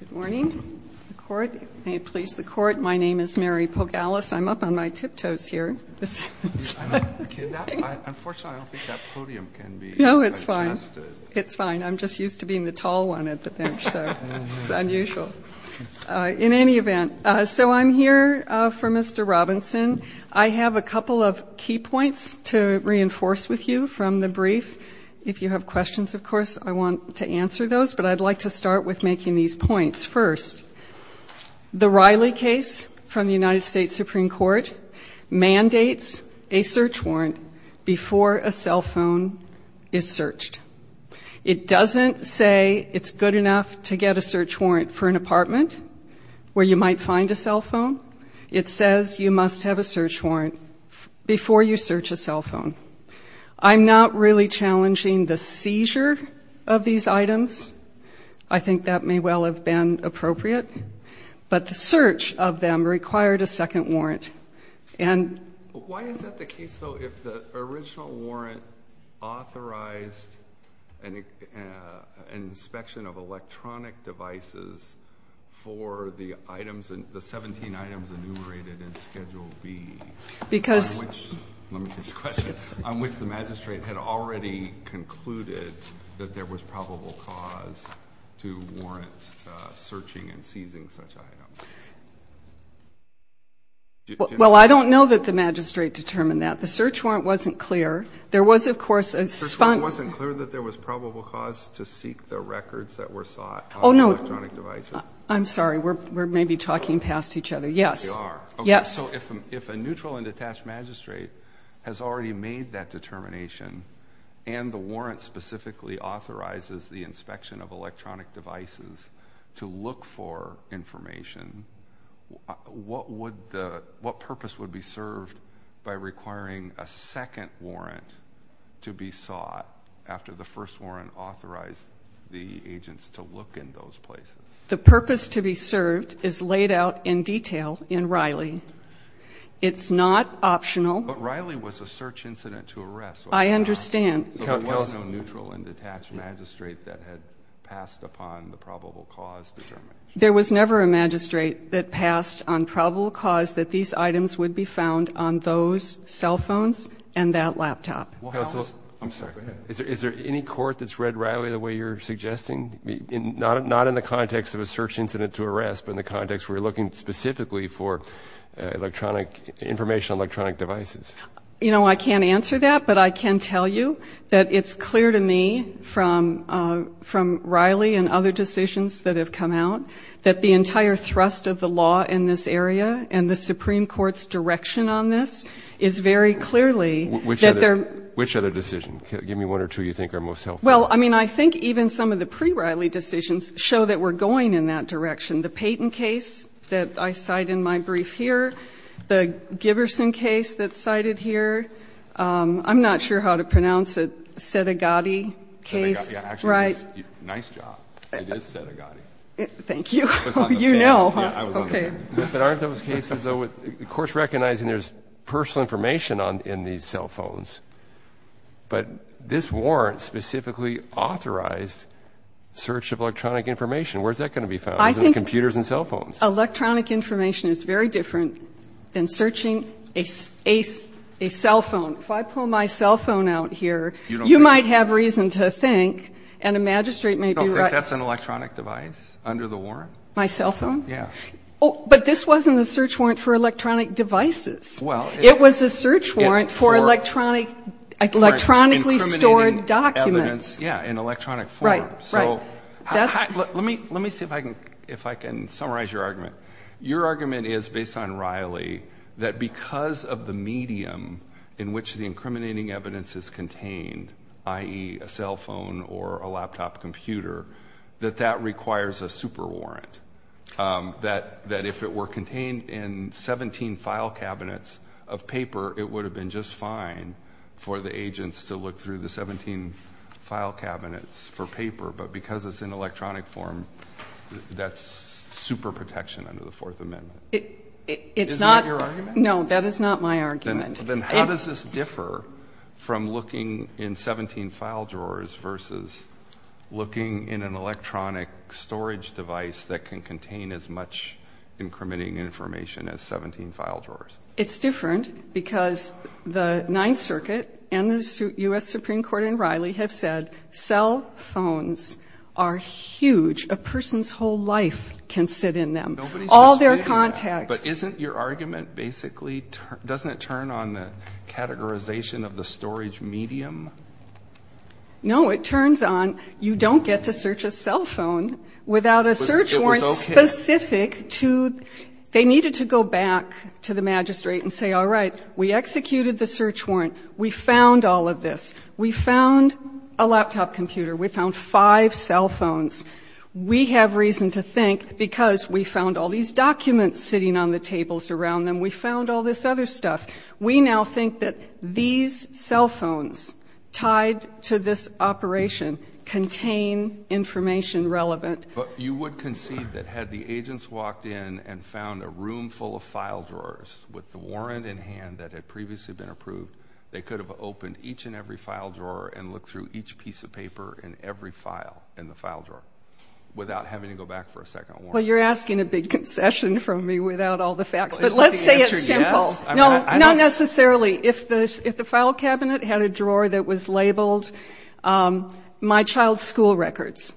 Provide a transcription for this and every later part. Good morning. The Court. May it please the Court. My name is Mary Pogalis. I'm up on my tiptoes here. Unfortunately, I don't think that podium can be adjusted. No, it's fine. It's fine. I'm just used to being the tall one at the bench, so it's unusual. In any event, so I'm here for Mr. Robinson. I have a couple of key points to reinforce with you from the brief. If you have questions, of course, I want to answer those, but I'd like to start with making these points. First, the Riley case from the United States Supreme Court mandates a search warrant before a cell phone is searched. It doesn't say it's good enough to get a search warrant for an apartment where you might find a cell phone. It says you must have a search warrant before you search a cell phone. I'm not really challenging the seizure of these items. I think that may well have been appropriate. But the search of them required a second warrant. Why is that the case, though, if the original warrant authorized an inspection of electronic devices for the 17 items enumerated in Schedule B? Let me finish the question. On which the magistrate had already concluded that there was probable cause to warrant searching and seizing such items? Well, I don't know that the magistrate determined that. The search warrant wasn't clear. The search warrant wasn't clear that there was probable cause to seek the records that were sought of electronic devices? Oh, no. I'm sorry. We're maybe talking past each other. We are. Yes. Okay. So if a neutral and detached magistrate has already made that determination and the warrant specifically authorizes the inspection of electronic devices to look for information, what purpose would be served by requiring a second warrant to be sought after the first warrant authorized the agents to look in those places? The purpose to be served is laid out in detail in Riley. It's not optional. But Riley was a search incident to arrest. I understand. So there was no neutral and detached magistrate that had passed upon the probable cause determination? There was never a magistrate that passed on probable cause that these items would be found on those cell phones and that laptop. I'm sorry. Go ahead. Is there any court that's read Riley the way you're suggesting? Not in the context of a search incident to arrest, but in the context where you're looking specifically for information on electronic devices? You know, I can't answer that, but I can tell you that it's clear to me from Riley and other decisions that have come out that the entire thrust of the law in this area and the Supreme Court's direction on this is very clearly that there are. Which other decision? Give me one or two you think are most helpful. Well, I mean, I think even some of the pre-Riley decisions show that we're going in that direction. The Payton case that I cite in my brief here. The Giberson case that's cited here. I'm not sure how to pronounce it. Sedigotti case. Right. It is Sedigotti. Thank you. You know. Okay. But aren't those cases, of course, recognizing there's personal information in these cell phones. But this warrant specifically authorized search of electronic information. Where's that going to be found? Computers and cell phones. Electronic information is very different than searching a cell phone. If I pull my cell phone out here, you might have reason to think. And a magistrate may be right. I don't think that's an electronic device under the warrant. My cell phone? Yeah. But this wasn't a search warrant for electronic devices. It was a search warrant for electronically stored documents. Yeah. In electronic form. Right. Right. Let me see if I can summarize your argument. Your argument is, based on Riley, that because of the medium in which the incriminating evidence is contained, i.e., a cell phone or a laptop computer, that that requires a super warrant. That if it were contained in 17 file cabinets of paper, it would have been just fine for the agents to look through the 17 file cabinets for paper. But because it's in electronic form, that's super protection under the Fourth Amendment. Isn't that your argument? No. That is not my argument. Then how does this differ from looking in 17 file drawers versus looking in an electronic storage device that can contain as much incriminating information as 17 file drawers? It's different because the Ninth Circuit and the U.S. Supreme Court and Riley have said cell phones are huge. A person's whole life can sit in them. Nobody's just sitting there. All their contacts. But isn't your argument basically doesn't it turn on the categorization of the storage medium? No. It turns on you don't get to search a cell phone without a search warrant specific to they needed to go back to the magistrate and say, all right, we executed the search warrant. We found all of this. We found a laptop computer. We found five cell phones. We have reason to think because we found all these documents sitting on the tables around them. We found all this other stuff. We now think that these cell phones tied to this operation contain information relevant. But you would concede that had the agents walked in and found a room full of file drawers with the warrant in hand that had previously been approved, they could have opened each and every file drawer and looked through each piece of paper in every file in the file drawer without having to go back for a second warrant. Well, you're asking a big concession from me without all the facts. But let's say it's simple. Not necessarily. If the file cabinet had a drawer that was labeled my child's school records.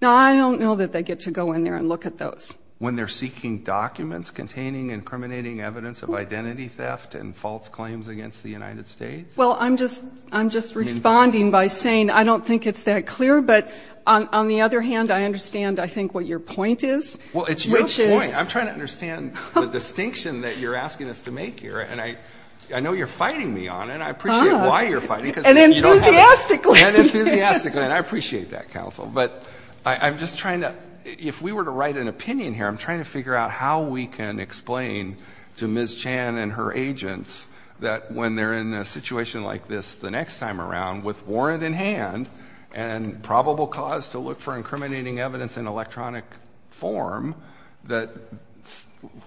Now, I don't know that they get to go in there and look at those. When they're seeking documents containing incriminating evidence of identity theft and false claims against the United States? Well, I'm just responding by saying I don't think it's that clear. But on the other hand, I understand, I think, what your point is. Well, it's your point. I'm trying to understand the distinction that you're asking us to make here. And I know you're fighting me on it. I appreciate why you're fighting. And enthusiastically. And enthusiastically. And I appreciate that, counsel. But I'm just trying to, if we were to write an opinion here, I'm trying to figure out how we can explain to Ms. Chan and her agents that when they're in a situation like this the next time around, with warrant in hand and probable cause to look for incriminating evidence in electronic form, that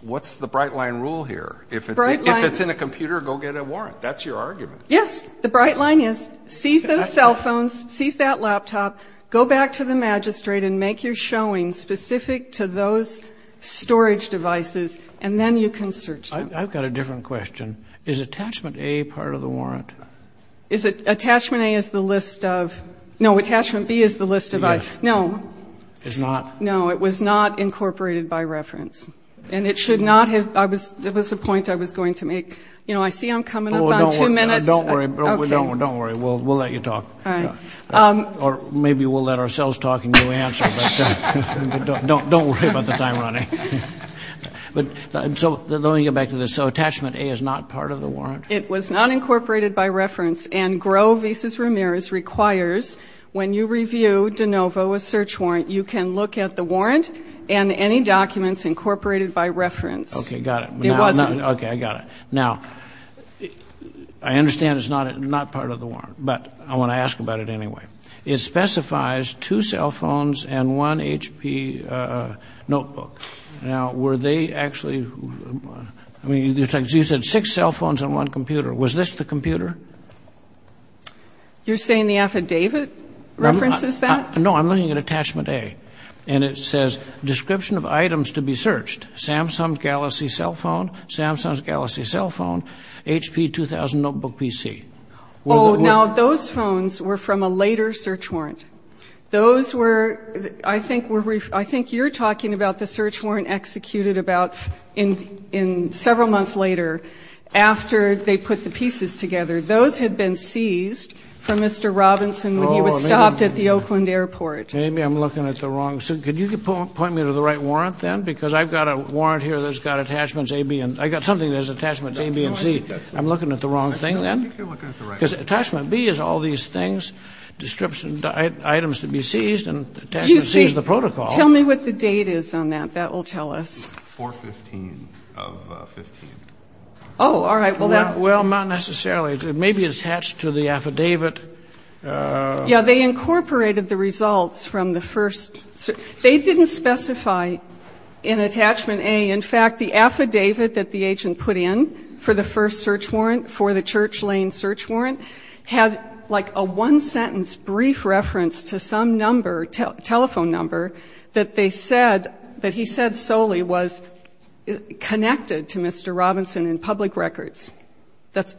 what's the bright line rule here? If it's in a computer, go get a warrant. That's your argument. Yes. The bright line is seize those cell phones, seize that laptop, go back to the magistrate and make your showing specific to those storage devices, and then you can search them. I've got a different question. Is attachment A part of the warrant? Is it? Attachment A is the list of no, attachment B is the list of no. It's not? No, it was not incorporated by reference. And it should not have. It was a point I was going to make. You know, I see I'm coming up on two minutes. Don't worry. Don't worry. We'll let you talk. All right. Or maybe we'll let ourselves talk and you'll answer. But don't worry about the time running. So let me get back to this. So attachment A is not part of the warrant? It was not incorporated by reference. And Groh v. Ramirez requires when you review de novo a search warrant, you can look at the warrant and any documents incorporated by reference. Okay, got it. It wasn't. Okay, I got it. Now, I understand it's not part of the warrant. But I want to ask about it anyway. It specifies two cell phones and one HP notebook. Now, were they actually, I mean, you said six cell phones and one computer. Was this the computer? You're saying the affidavit references that? No, I'm looking at attachment A. And it says description of items to be searched. Samsung Galaxy cell phone, Samsung Galaxy cell phone, HP 2000 notebook PC. Oh, now, those phones were from a later search warrant. Those were, I think you're talking about the search warrant executed about several months later after they put the pieces together. Those had been seized from Mr. Robinson when he was stopped at the Oakland airport. Maybe I'm looking at the wrong, so could you point me to the right warrant then? Because I've got a warrant here that's got attachments A, B, and, I've got something that has attachments A, B, and C. I'm looking at the wrong thing then? I think you're looking at the right one. Because attachment B is all these things, description of items to be seized, and attachment C is the protocol. Excuse me. Tell me what the date is on that. That will tell us. 4-15 of 15. Oh, all right. Well, not necessarily. It may be attached to the affidavit. Yeah, they incorporated the results from the first. They didn't specify in attachment A. In fact, the affidavit that the agent put in for the first search warrant, for the Church Lane search warrant, had like a one-sentence brief reference to some number, telephone number, that they said, that he said solely was connected to Mr. Robinson in public records.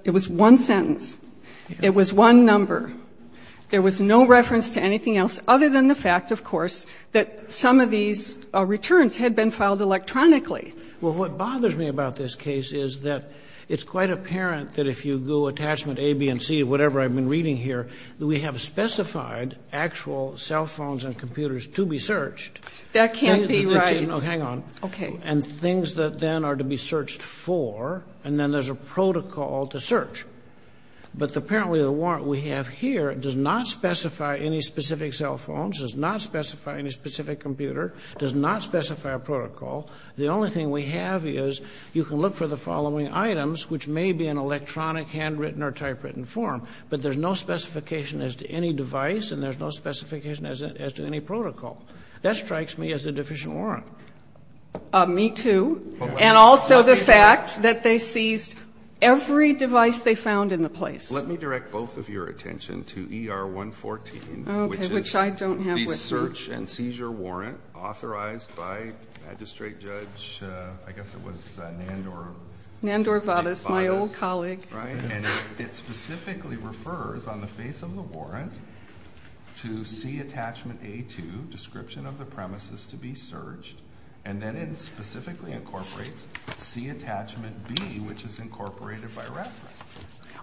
It was one sentence. It was one number. There was no reference to anything else other than the fact, of course, that some of these returns had been filed electronically. Well, what bothers me about this case is that it's quite apparent that if you go attachment A, B, and C, whatever I've been reading here, that we have specified actual cell phones and computers to be searched. That can't be right. Hang on. Okay. And things that then are to be searched for, and then there's a protocol to search. But apparently the warrant we have here does not specify any specific cell phones, does not specify any specific computer, does not specify a protocol. The only thing we have is you can look for the following items, which may be in electronic, handwritten, or typewritten form, but there's no specification as to any device, and there's no specification as to any protocol. That strikes me as a deficient warrant. Me too. And also the fact that they seized every device they found in the place. Let me direct both of your attention to ER 114. Okay. Which I don't have with me. The search and seizure warrant authorized by Magistrate Judge, I guess it was Nandor. Nandor Vadas, my old colleague. Right. And it specifically refers, on the face of the warrant, to C attachment A2, description of the premises to be searched, and then it specifically incorporates C attachment B, which is incorporated by reference.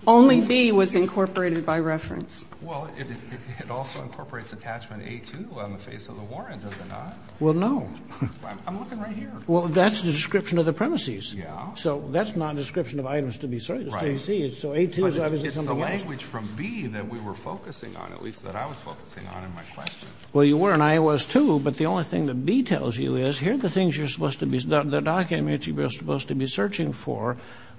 Only B was incorporated by reference. Well, it also incorporates attachment A2 on the face of the warrant, does it not? Well, no. I'm looking right here. Well, that's the description of the premises. Yeah. So that's not a description of items to be searched. Right. But it's the language from B that we were focusing on, at least that I was focusing on in my question. Well, you were, and I was too. But the only thing that B tells you is, here are the things you're supposed to be, the documents you're supposed to be searching for,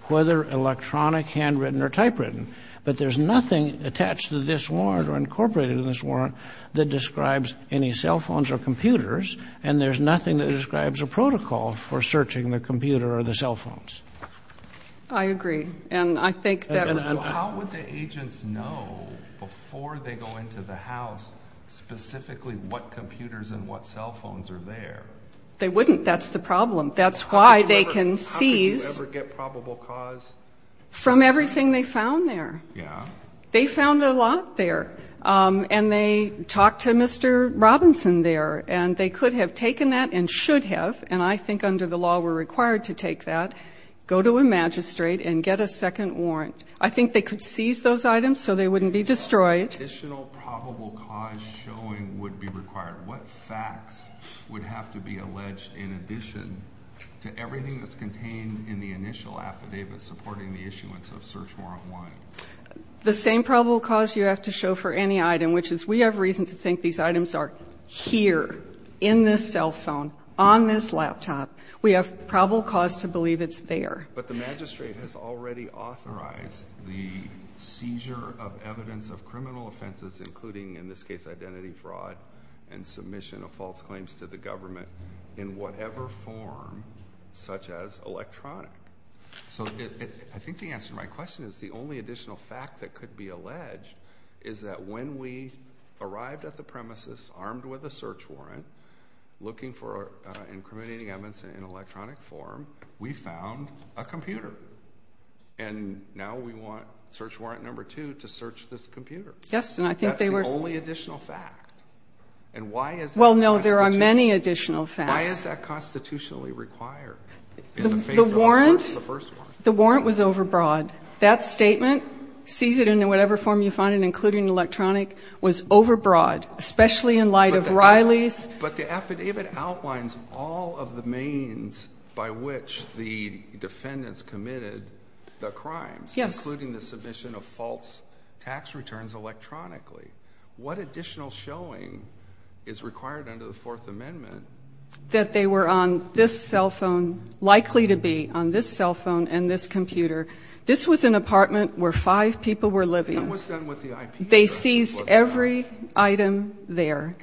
whether electronic, handwritten, or typewritten. But there's nothing attached to this warrant or incorporated in this warrant that describes any cell phones or computers, and there's nothing that describes a protocol for searching the computer or the cell phones. I agree. And I think that's important. So how would the agents know, before they go into the house, specifically what computers and what cell phones are there? They wouldn't. That's the problem. That's why they can seize. How could you ever get probable cause? From everything they found there. Yeah. They found a lot there. And they talked to Mr. Robinson there, and they could have taken that and should have, and I think under the law we're required to take that, go to a magistrate and get a second warrant. I think they could seize those items so they wouldn't be destroyed. What additional probable cause showing would be required? What facts would have to be alleged in addition to everything that's contained in the initial affidavit supporting the issuance of Search Warrant 1? The same probable cause you have to show for any item, which is we have reason to think these items are here, in this cell phone, on this laptop. We have probable cause to believe it's there. But the magistrate has already authorized the seizure of evidence of criminal offenses, including, in this case, identity fraud and submission of false claims to the government in whatever form, such as electronic. So I think the answer to my question is the only additional fact that could be alleged is that when we arrived at the premises armed with a search warrant, looking for incriminating evidence in electronic form, we found a computer. And now we want Search Warrant 2 to search this computer. Yes, and I think they were. That's the only additional fact. And why is that constitutional? Well, no, there are many additional facts. Why is that constitutionally required in the face of the first warrant? The warrant was overbroad. That statement, seize it in whatever form you find it, including electronic, was overbroad, especially in light of Riley's. But the affidavit outlines all of the means by which the defendants committed the crimes. Yes. Including the submission of false tax returns electronically. What additional showing is required under the Fourth Amendment? That they were on this cell phone, likely to be on this cell phone and this computer. This was an apartment where five people were living. And what's done with the IP address? They seized every item there.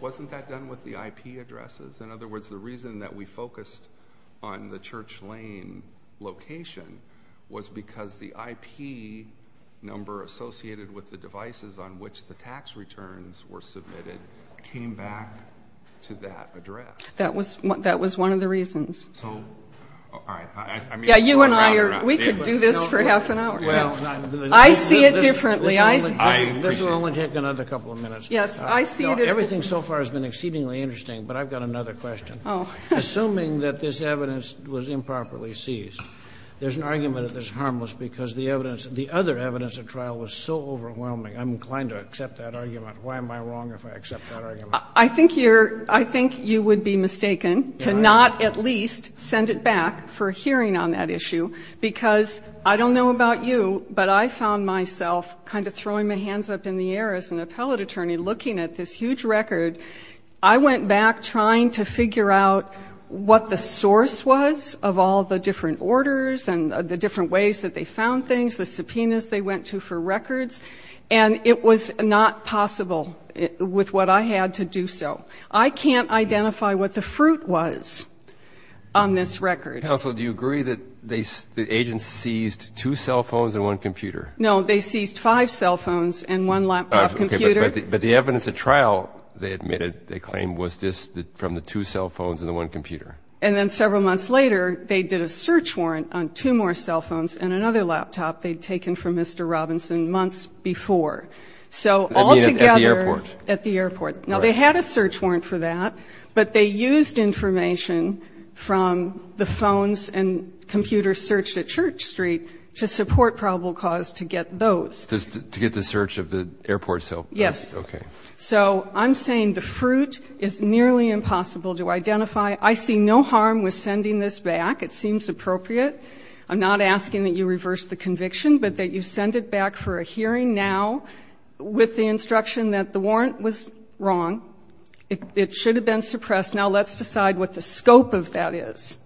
Wasn't that done with the IP addresses? In other words, the reason that we focused on the Church Lane location was because the IP number associated with the devices on which the tax returns were submitted came back to that address. That was one of the reasons. So, all right. Yeah, you and I, we could do this for half an hour. This will only take another couple of minutes. Yes, I see it as Everything so far has been exceedingly interesting, but I've got another question. Oh. Assuming that this evidence was improperly seized, there's an argument that it's harmless because the evidence, the other evidence at trial was so overwhelming. I'm inclined to accept that argument. Why am I wrong if I accept that argument? I think you're, I think you would be mistaken to not at least send it back for hearing on that issue, because I don't know about you, but I found myself kind of throwing my hands up in the air as an appellate attorney looking at this huge record. I went back trying to figure out what the source was of all the different orders and the different ways that they found things, the subpoenas they went to for records, and it was not possible with what I had to do so. I can't identify what the fruit was on this record. Counsel, do you agree that the agents seized two cell phones and one computer? No. They seized five cell phones and one laptop computer. Okay. But the evidence at trial, they admitted, they claimed, was just from the two cell phones and the one computer. And then several months later, they did a search warrant on two more cell phones and another laptop they'd taken from Mr. Robinson months before. So altogether at the airport. Now, they had a search warrant for that, but they used information from the phones and computers searched at Church Street to support probable cause to get those. To get the search of the airport cell phones? Yes. Okay. So I'm saying the fruit is nearly impossible to identify. I see no harm with sending this back. It seems appropriate. I'm not asking that you reverse the conviction, but that you send it back for a hearing now with the instruction that the warrant was wrong. It should have been suppressed. Now let's decide what the scope of that is.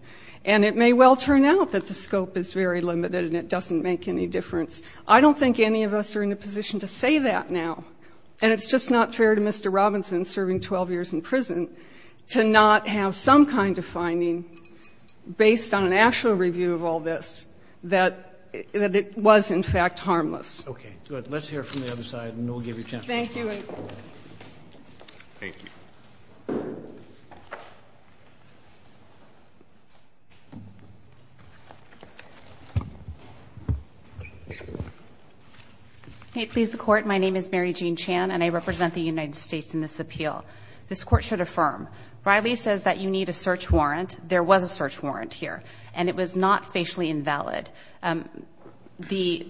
And it may well turn out that the scope is very limited and it doesn't make any difference. I don't think any of us are in a position to say that now. And it's just not fair to Mr. Robinson, serving 12 years in prison, to not have some kind of finding based on an actual review of all this that it was, in fact, harmless. Okay. Good. Let's hear it from the other side, and we'll give you a chance. Thank you. Thank you. Thank you. May it please the Court, my name is Mary Jean Chan, and I represent the United States in this appeal. This Court should affirm. Riley says that you need a search warrant. There was a search warrant here, and it was not facially invalid. The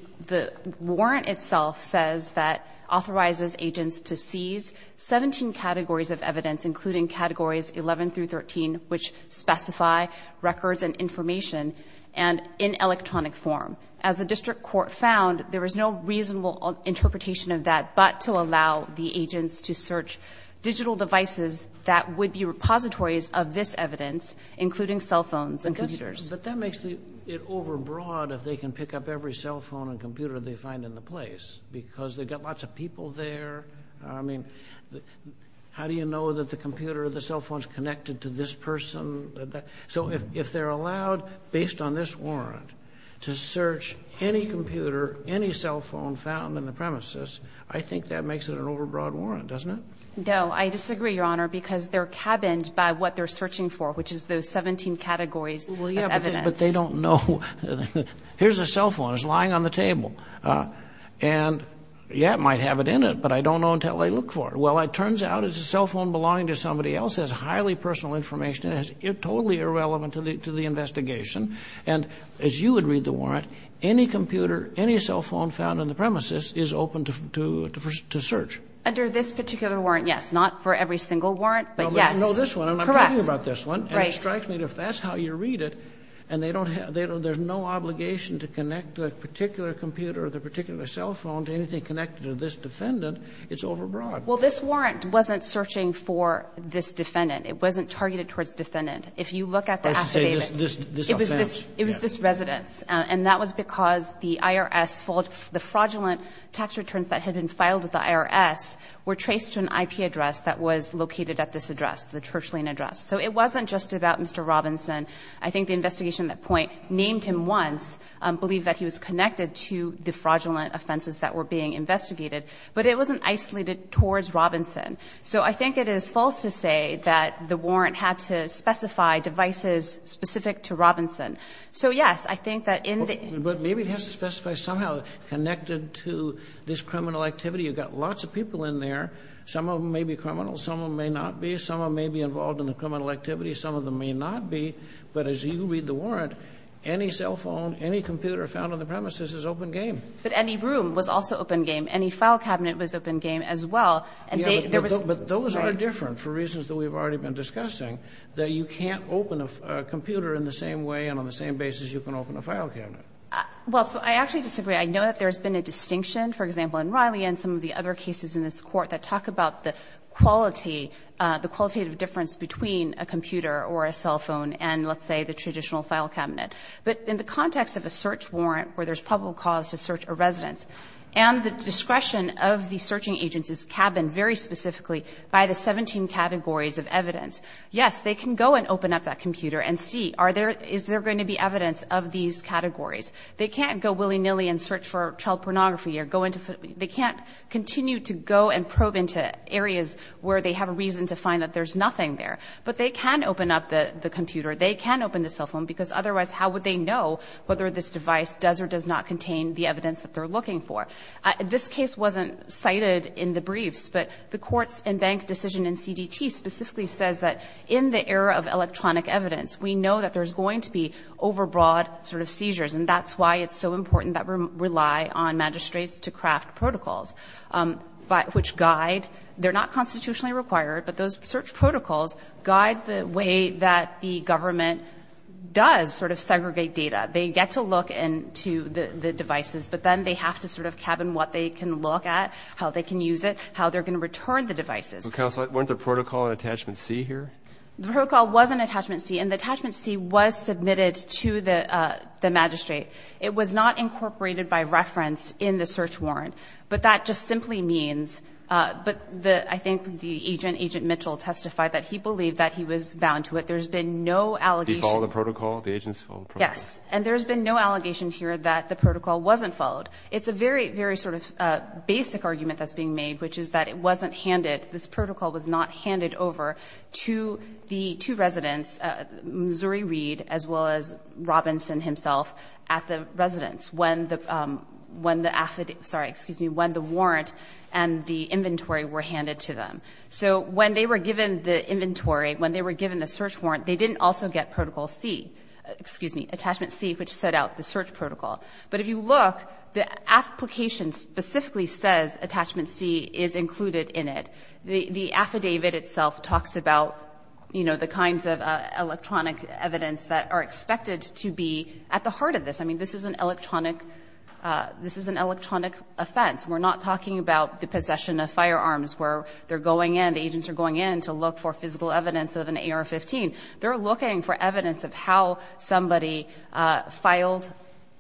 warrant itself says that it authorizes agents to seize 17 categories of evidence, including categories 11 through 13, which specify records and information, and in electronic form. As the district court found, there was no reasonable interpretation of that but to allow the agents to search digital devices that would be repositories of this evidence, including cell phones and computers. But that makes it overbroad if they can pick up every cell phone and computer they find in the place, because they've got lots of people there. I mean, how do you know that the computer or the cell phone is connected to this person? So if they're allowed, based on this warrant, to search any computer, any cell phone found in the premises, I think that makes it an overbroad warrant, doesn't it? No, I disagree, Your Honor, because they're cabined by what they're searching for, which is those 17 categories of evidence. But they don't know. Here's a cell phone. It's lying on the table. And, yeah, it might have it in it, but I don't know until I look for it. Well, it turns out it's a cell phone belonging to somebody else. It has highly personal information in it. It's totally irrelevant to the investigation. And as you would read the warrant, any computer, any cell phone found in the premises is open to search. Under this particular warrant, yes. Not for every single warrant, but yes. Well, but you know this one. Correct. I'm talking about this one. Right. And it strikes me that if that's how you read it, and they don't have, there's no obligation to connect the particular computer or the particular cell phone to anything connected to this defendant, it's overbroad. Well, this warrant wasn't searching for this defendant. It wasn't targeted towards defendant. If you look at the affidavit, it was this residence. And that was because the IRS, the fraudulent tax returns that had been filed with the IRS were traced to an IP address that was located at this address, the Church Lane address. So it wasn't just about Mr. Robinson. I think the investigation at that point named him once, believed that he was connected to the fraudulent offenses that were being investigated, but it wasn't isolated towards Robinson. So I think it is false to say that the warrant had to specify devices specific to Robinson. So, yes, I think that in the ---- But maybe it has to specify somehow connected to this criminal activity. You've got lots of people in there. Some of them may be criminals. Some of them may not be. Some of them may be involved in the criminal activity. Some of them may not be. But as you read the warrant, any cell phone, any computer found on the premises is open game. But any room was also open game. Any file cabinet was open game as well. And there was ---- But those are different for reasons that we've already been discussing, that you can't open a computer in the same way and on the same basis you can open a file cabinet. Well, so I actually disagree. I know that there's been a distinction, for example, in Riley and some of the other cases in this Court that talk about the quality, the qualitative difference between a computer or a cell phone and, let's say, the traditional file cabinet. But in the context of a search warrant where there's probable cause to search a residence and the discretion of the searching agent's cabin very specifically by the 17 categories of evidence, yes, they can go and open up that computer and see are there ---- is there going to be evidence of these categories. They can't go willy-nilly and search for child pornography or go into ---- they can't continue to go and probe into areas where they have a reason to find that there's nothing there. But they can open up the computer. They can open the cell phone because otherwise how would they know whether this device does or does not contain the evidence that they're looking for? This case wasn't cited in the briefs, but the courts and bank decision in CDT specifically says that in the era of electronic evidence, we know that there's going to be overbroad sort of seizures. And that's why it's so important that we rely on magistrates to craft protocols which guide. They're not constitutionally required, but those search protocols guide the way that the government does sort of segregate data. They get to look into the devices, but then they have to sort of cabin what they can look at, how they can use it, how they're going to return the devices. But, Counselor, weren't the protocol in Attachment C here? The protocol was in Attachment C, and the Attachment C was submitted to the magistrate. It was not incorporated by reference in the search warrant, but that just simply means, but I think the agent, Agent Mitchell, testified that he believed that he was bound to it. There's been no allegation. Did he follow the protocol? The agents followed the protocol? Yes. And there's been no allegation here that the protocol wasn't followed. It's a very, very sort of basic argument that's being made, which is that it wasn't handed. This protocol was not handed over to the two residents, Missouri Reed, as well as Robinson himself, at the residence when the affidavit, sorry, excuse me, when the warrant and the inventory were handed to them. So when they were given the inventory, when they were given the search warrant, they didn't also get Protocol C, excuse me, Attachment C, which set out the search protocol. But if you look, the application specifically says Attachment C is included in it. The affidavit itself talks about, you know, the kinds of electronic evidence that are expected to be at the heart of this. I mean, this is an electronic offense. We're not talking about the possession of firearms where they're going in, the agents are going in to look for physical evidence of an AR-15. They're looking for evidence of how somebody filed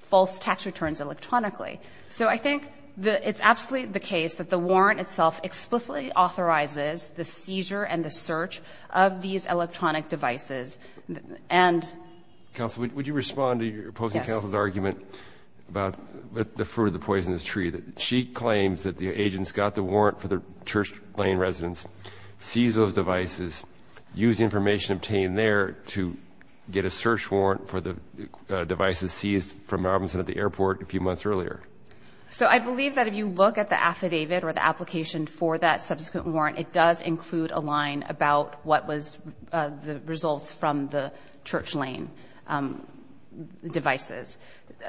false tax returns electronically. So I think it's absolutely the case that the warrant itself explicitly authorizes the seizure and the search of these electronic devices. And – Counsel, would you respond to your opposing counsel's argument about the fruit of the poisonous tree, that she claims that the agents got the warrant for the church lane residents, seized those devices, used the information obtained there to get a search warrant for the devices seized from Robinson at the airport a few months earlier? So I believe that if you look at the affidavit or the application for that subsequent warrant, it does include a line about what was the results from the church lane devices.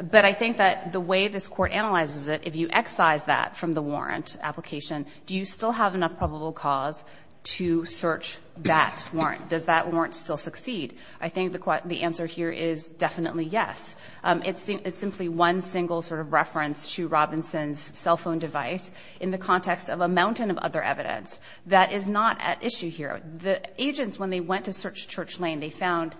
But I think that the way this Court analyzes it, if you excise that from the warrant application, do you still have enough probable cause to search that warrant? Does that warrant still succeed? I think the answer here is definitely yes. It's simply one single sort of reference to Robinson's cell phone device in the context of a mountain of other evidence. That is not at issue here. The agents, when they went to search church lane, they found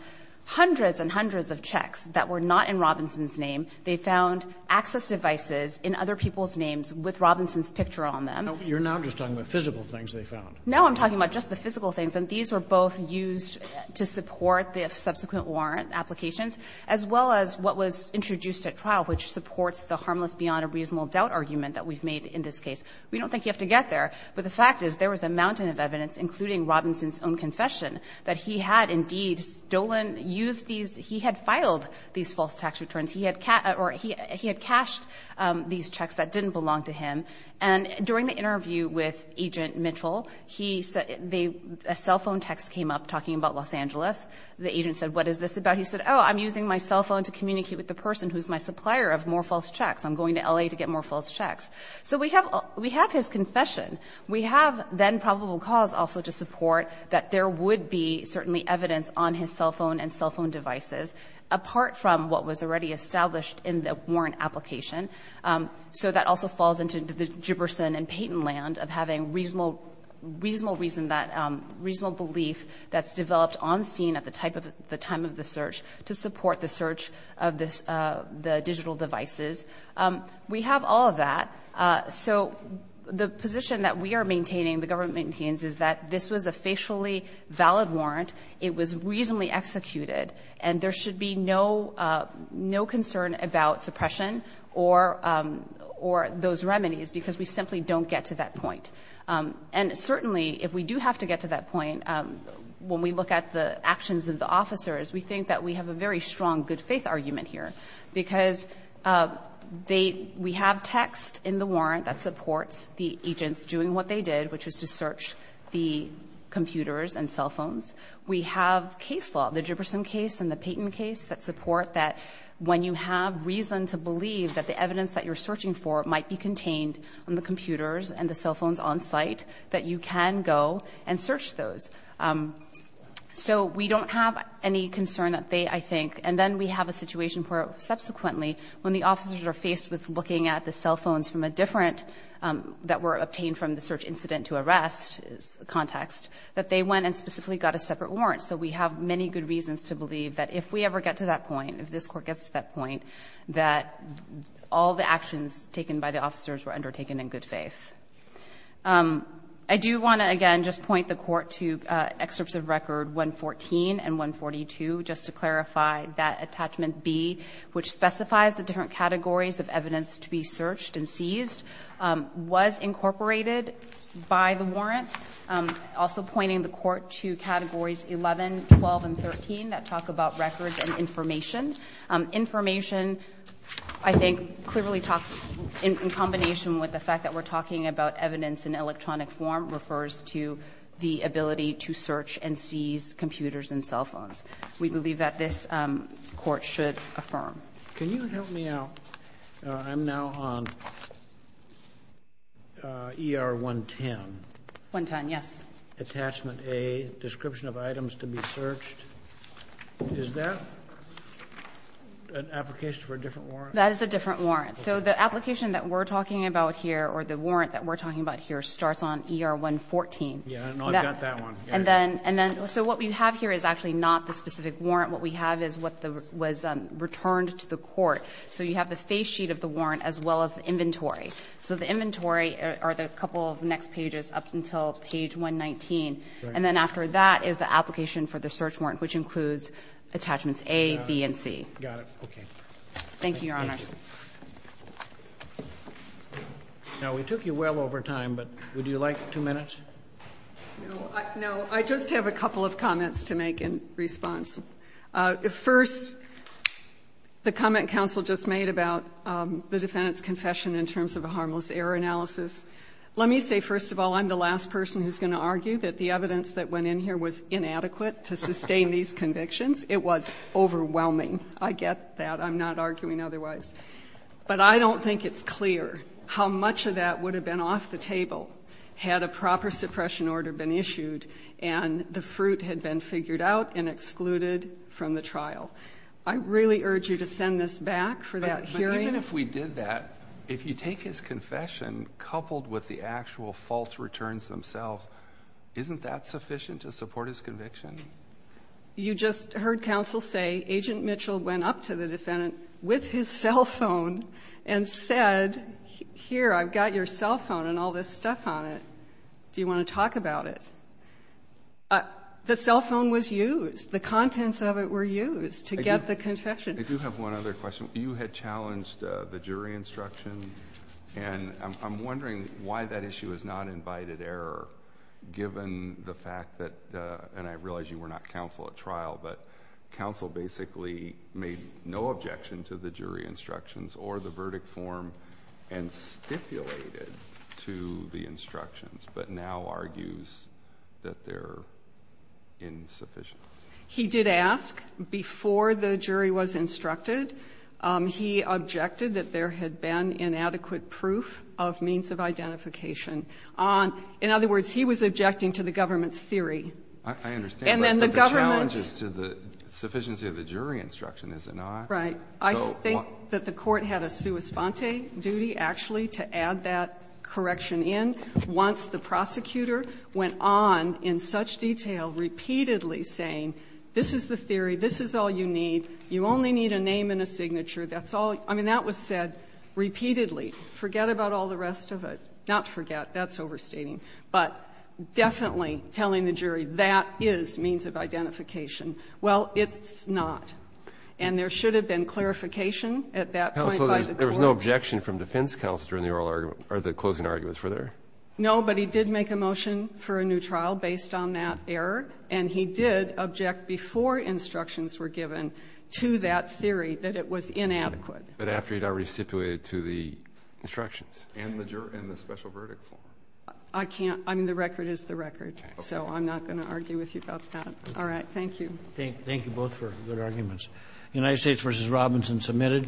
hundreds and hundreds of checks that were not in Robinson's name. They found access devices in other people's names with Robinson's picture on them. You're now just talking about physical things they found. No, I'm talking about just the physical things. And these were both used to support the subsequent warrant applications, as well as what was introduced at trial, which supports the harmless beyond a reasonable doubt argument that we've made in this case. We don't think you have to get there, but the fact is there was a mountain of evidence, including Robinson's own confession, that he had indeed stolen, used these, he had filed these false tax returns. He had cashed these checks that didn't belong to him. And during the interview with Agent Mitchell, a cell phone text came up talking about Los Angeles. The agent said, what is this about? He said, oh, I'm using my cell phone to communicate with the person who is my supplier of more false checks. I'm going to L.A. to get more false checks. So we have his confession. We have then probable cause also to support that there would be certainly evidence on his cell phone and cell phone devices, apart from what was already established in the warrant application. So that also falls into the Giberson and Payton land of having reasonable belief that's developed on scene at the time of the search to support the search of the digital devices. We have all of that. So the position that we are maintaining, the government maintains, is that this was a facially valid warrant. It was reasonably executed. And there should be no concern about suppression or those remedies, because we simply don't get to that point. And certainly, if we do have to get to that point, when we look at the actions of the officers, we think that we have a very strong good faith argument here, because we have text in the warrant that supports the agents doing what they did, which was to search the computers and cell phones. We have case law, the Giberson case and the Payton case, that support that when you have reason to believe that the evidence that you're searching for might be contained on the computers and the cell phones on site, that you can go and search those. So we don't have any concern that they, I think. And then we have a situation where, subsequently, when the officers are faced with looking at the cell phones from a different, that were obtained from the search incident to arrest context, that they went and specifically got a separate warrant. So we have many good reasons to believe that if we ever get to that point, if this Court gets to that point, that all the actions taken by the officers were undertaken in good faith. I do want to, again, just point the Court to Excerpts of Record 114 and 142, just to clarify that attachment B, which specifies the different categories of evidence to be searched and seized. Was incorporated by the warrant. Also pointing the Court to Categories 11, 12, and 13, that talk about records and information. Information, I think, clearly talks, in combination with the fact that we're talking about evidence in electronic form, refers to the ability to search and seize computers and cell phones. We believe that this Court should affirm. Can you help me out? I'm now on ER 110. 110, yes. Attachment A, Description of Items to be Searched. Is that an application for a different warrant? That is a different warrant. So the application that we're talking about here, or the warrant that we're talking about here, starts on ER 114. Yeah, I've got that one. And then, so what we have here is actually not the specific warrant. What we have is what was returned to the Court. So you have the face sheet of the warrant, as well as the inventory. So the inventory are the couple of next pages up until page 119. And then after that is the application for the search warrant, which includes attachments A, B, and C. Got it. Okay. Thank you, Your Honors. Now, we took you well over time, but would you like two minutes? No, I just have a couple of comments to make in response. First, the comment counsel just made about the defendant's confession in terms of a harmless error analysis. Let me say, first of all, I'm the last person who's going to argue that the evidence that went in here was inadequate to sustain these convictions. It was overwhelming. I get that. I'm not arguing otherwise. But I don't think it's clear how much of that would have been off the table, had a proper suppression order been issued, and the fruit had been figured out and excluded from the trial. I really urge you to send this back for that hearing. But even if we did that, if you take his confession coupled with the actual false returns themselves, isn't that sufficient to support his conviction? You just heard counsel say, Agent Mitchell went up to the defendant with his cell phone and said, here, I've got your cell phone and all this stuff on it. Do you want to talk about it? The cell phone was used. The contents of it were used to get the confession. I do have one other question. You had challenged the jury instruction, and I'm wondering why that issue is not invited error, given the fact that, and I realize you were not counsel at trial, but counsel basically made no objection to the jury instructions or the verdict form and stipulated to the instructions, but now argues that they're insufficient. He did ask before the jury was instructed. He objected that there had been inadequate proof of means of identification. In other words, he was objecting to the government's theory. I understand, but the challenge is to the sufficiency of the jury instruction, is it not? Right. I think that the court had a sua sponte duty actually to add that correction in once the prosecutor went on in such detail repeatedly saying, this is the theory, this is all you need, you only need a name and a signature. That's all. I mean, that was said repeatedly. Forget about all the rest of it. Not forget. That's overstating. But definitely telling the jury that is means of identification. Well, it's not. And there should have been clarification at that point by the court. Counsel, there was no objection from defense counsel during the oral argument or the closing arguments. Was there? No, but he did make a motion for a new trial based on that error, and he did object before instructions were given to that theory that it was inadequate. But after he had already stipulated to the instructions and the special verdict form. I can't. I mean, the record is the record. Okay. So I'm not going to argue with you about that. All right. Thank you. Thank you both for good arguments. United States v. Robinson submitted.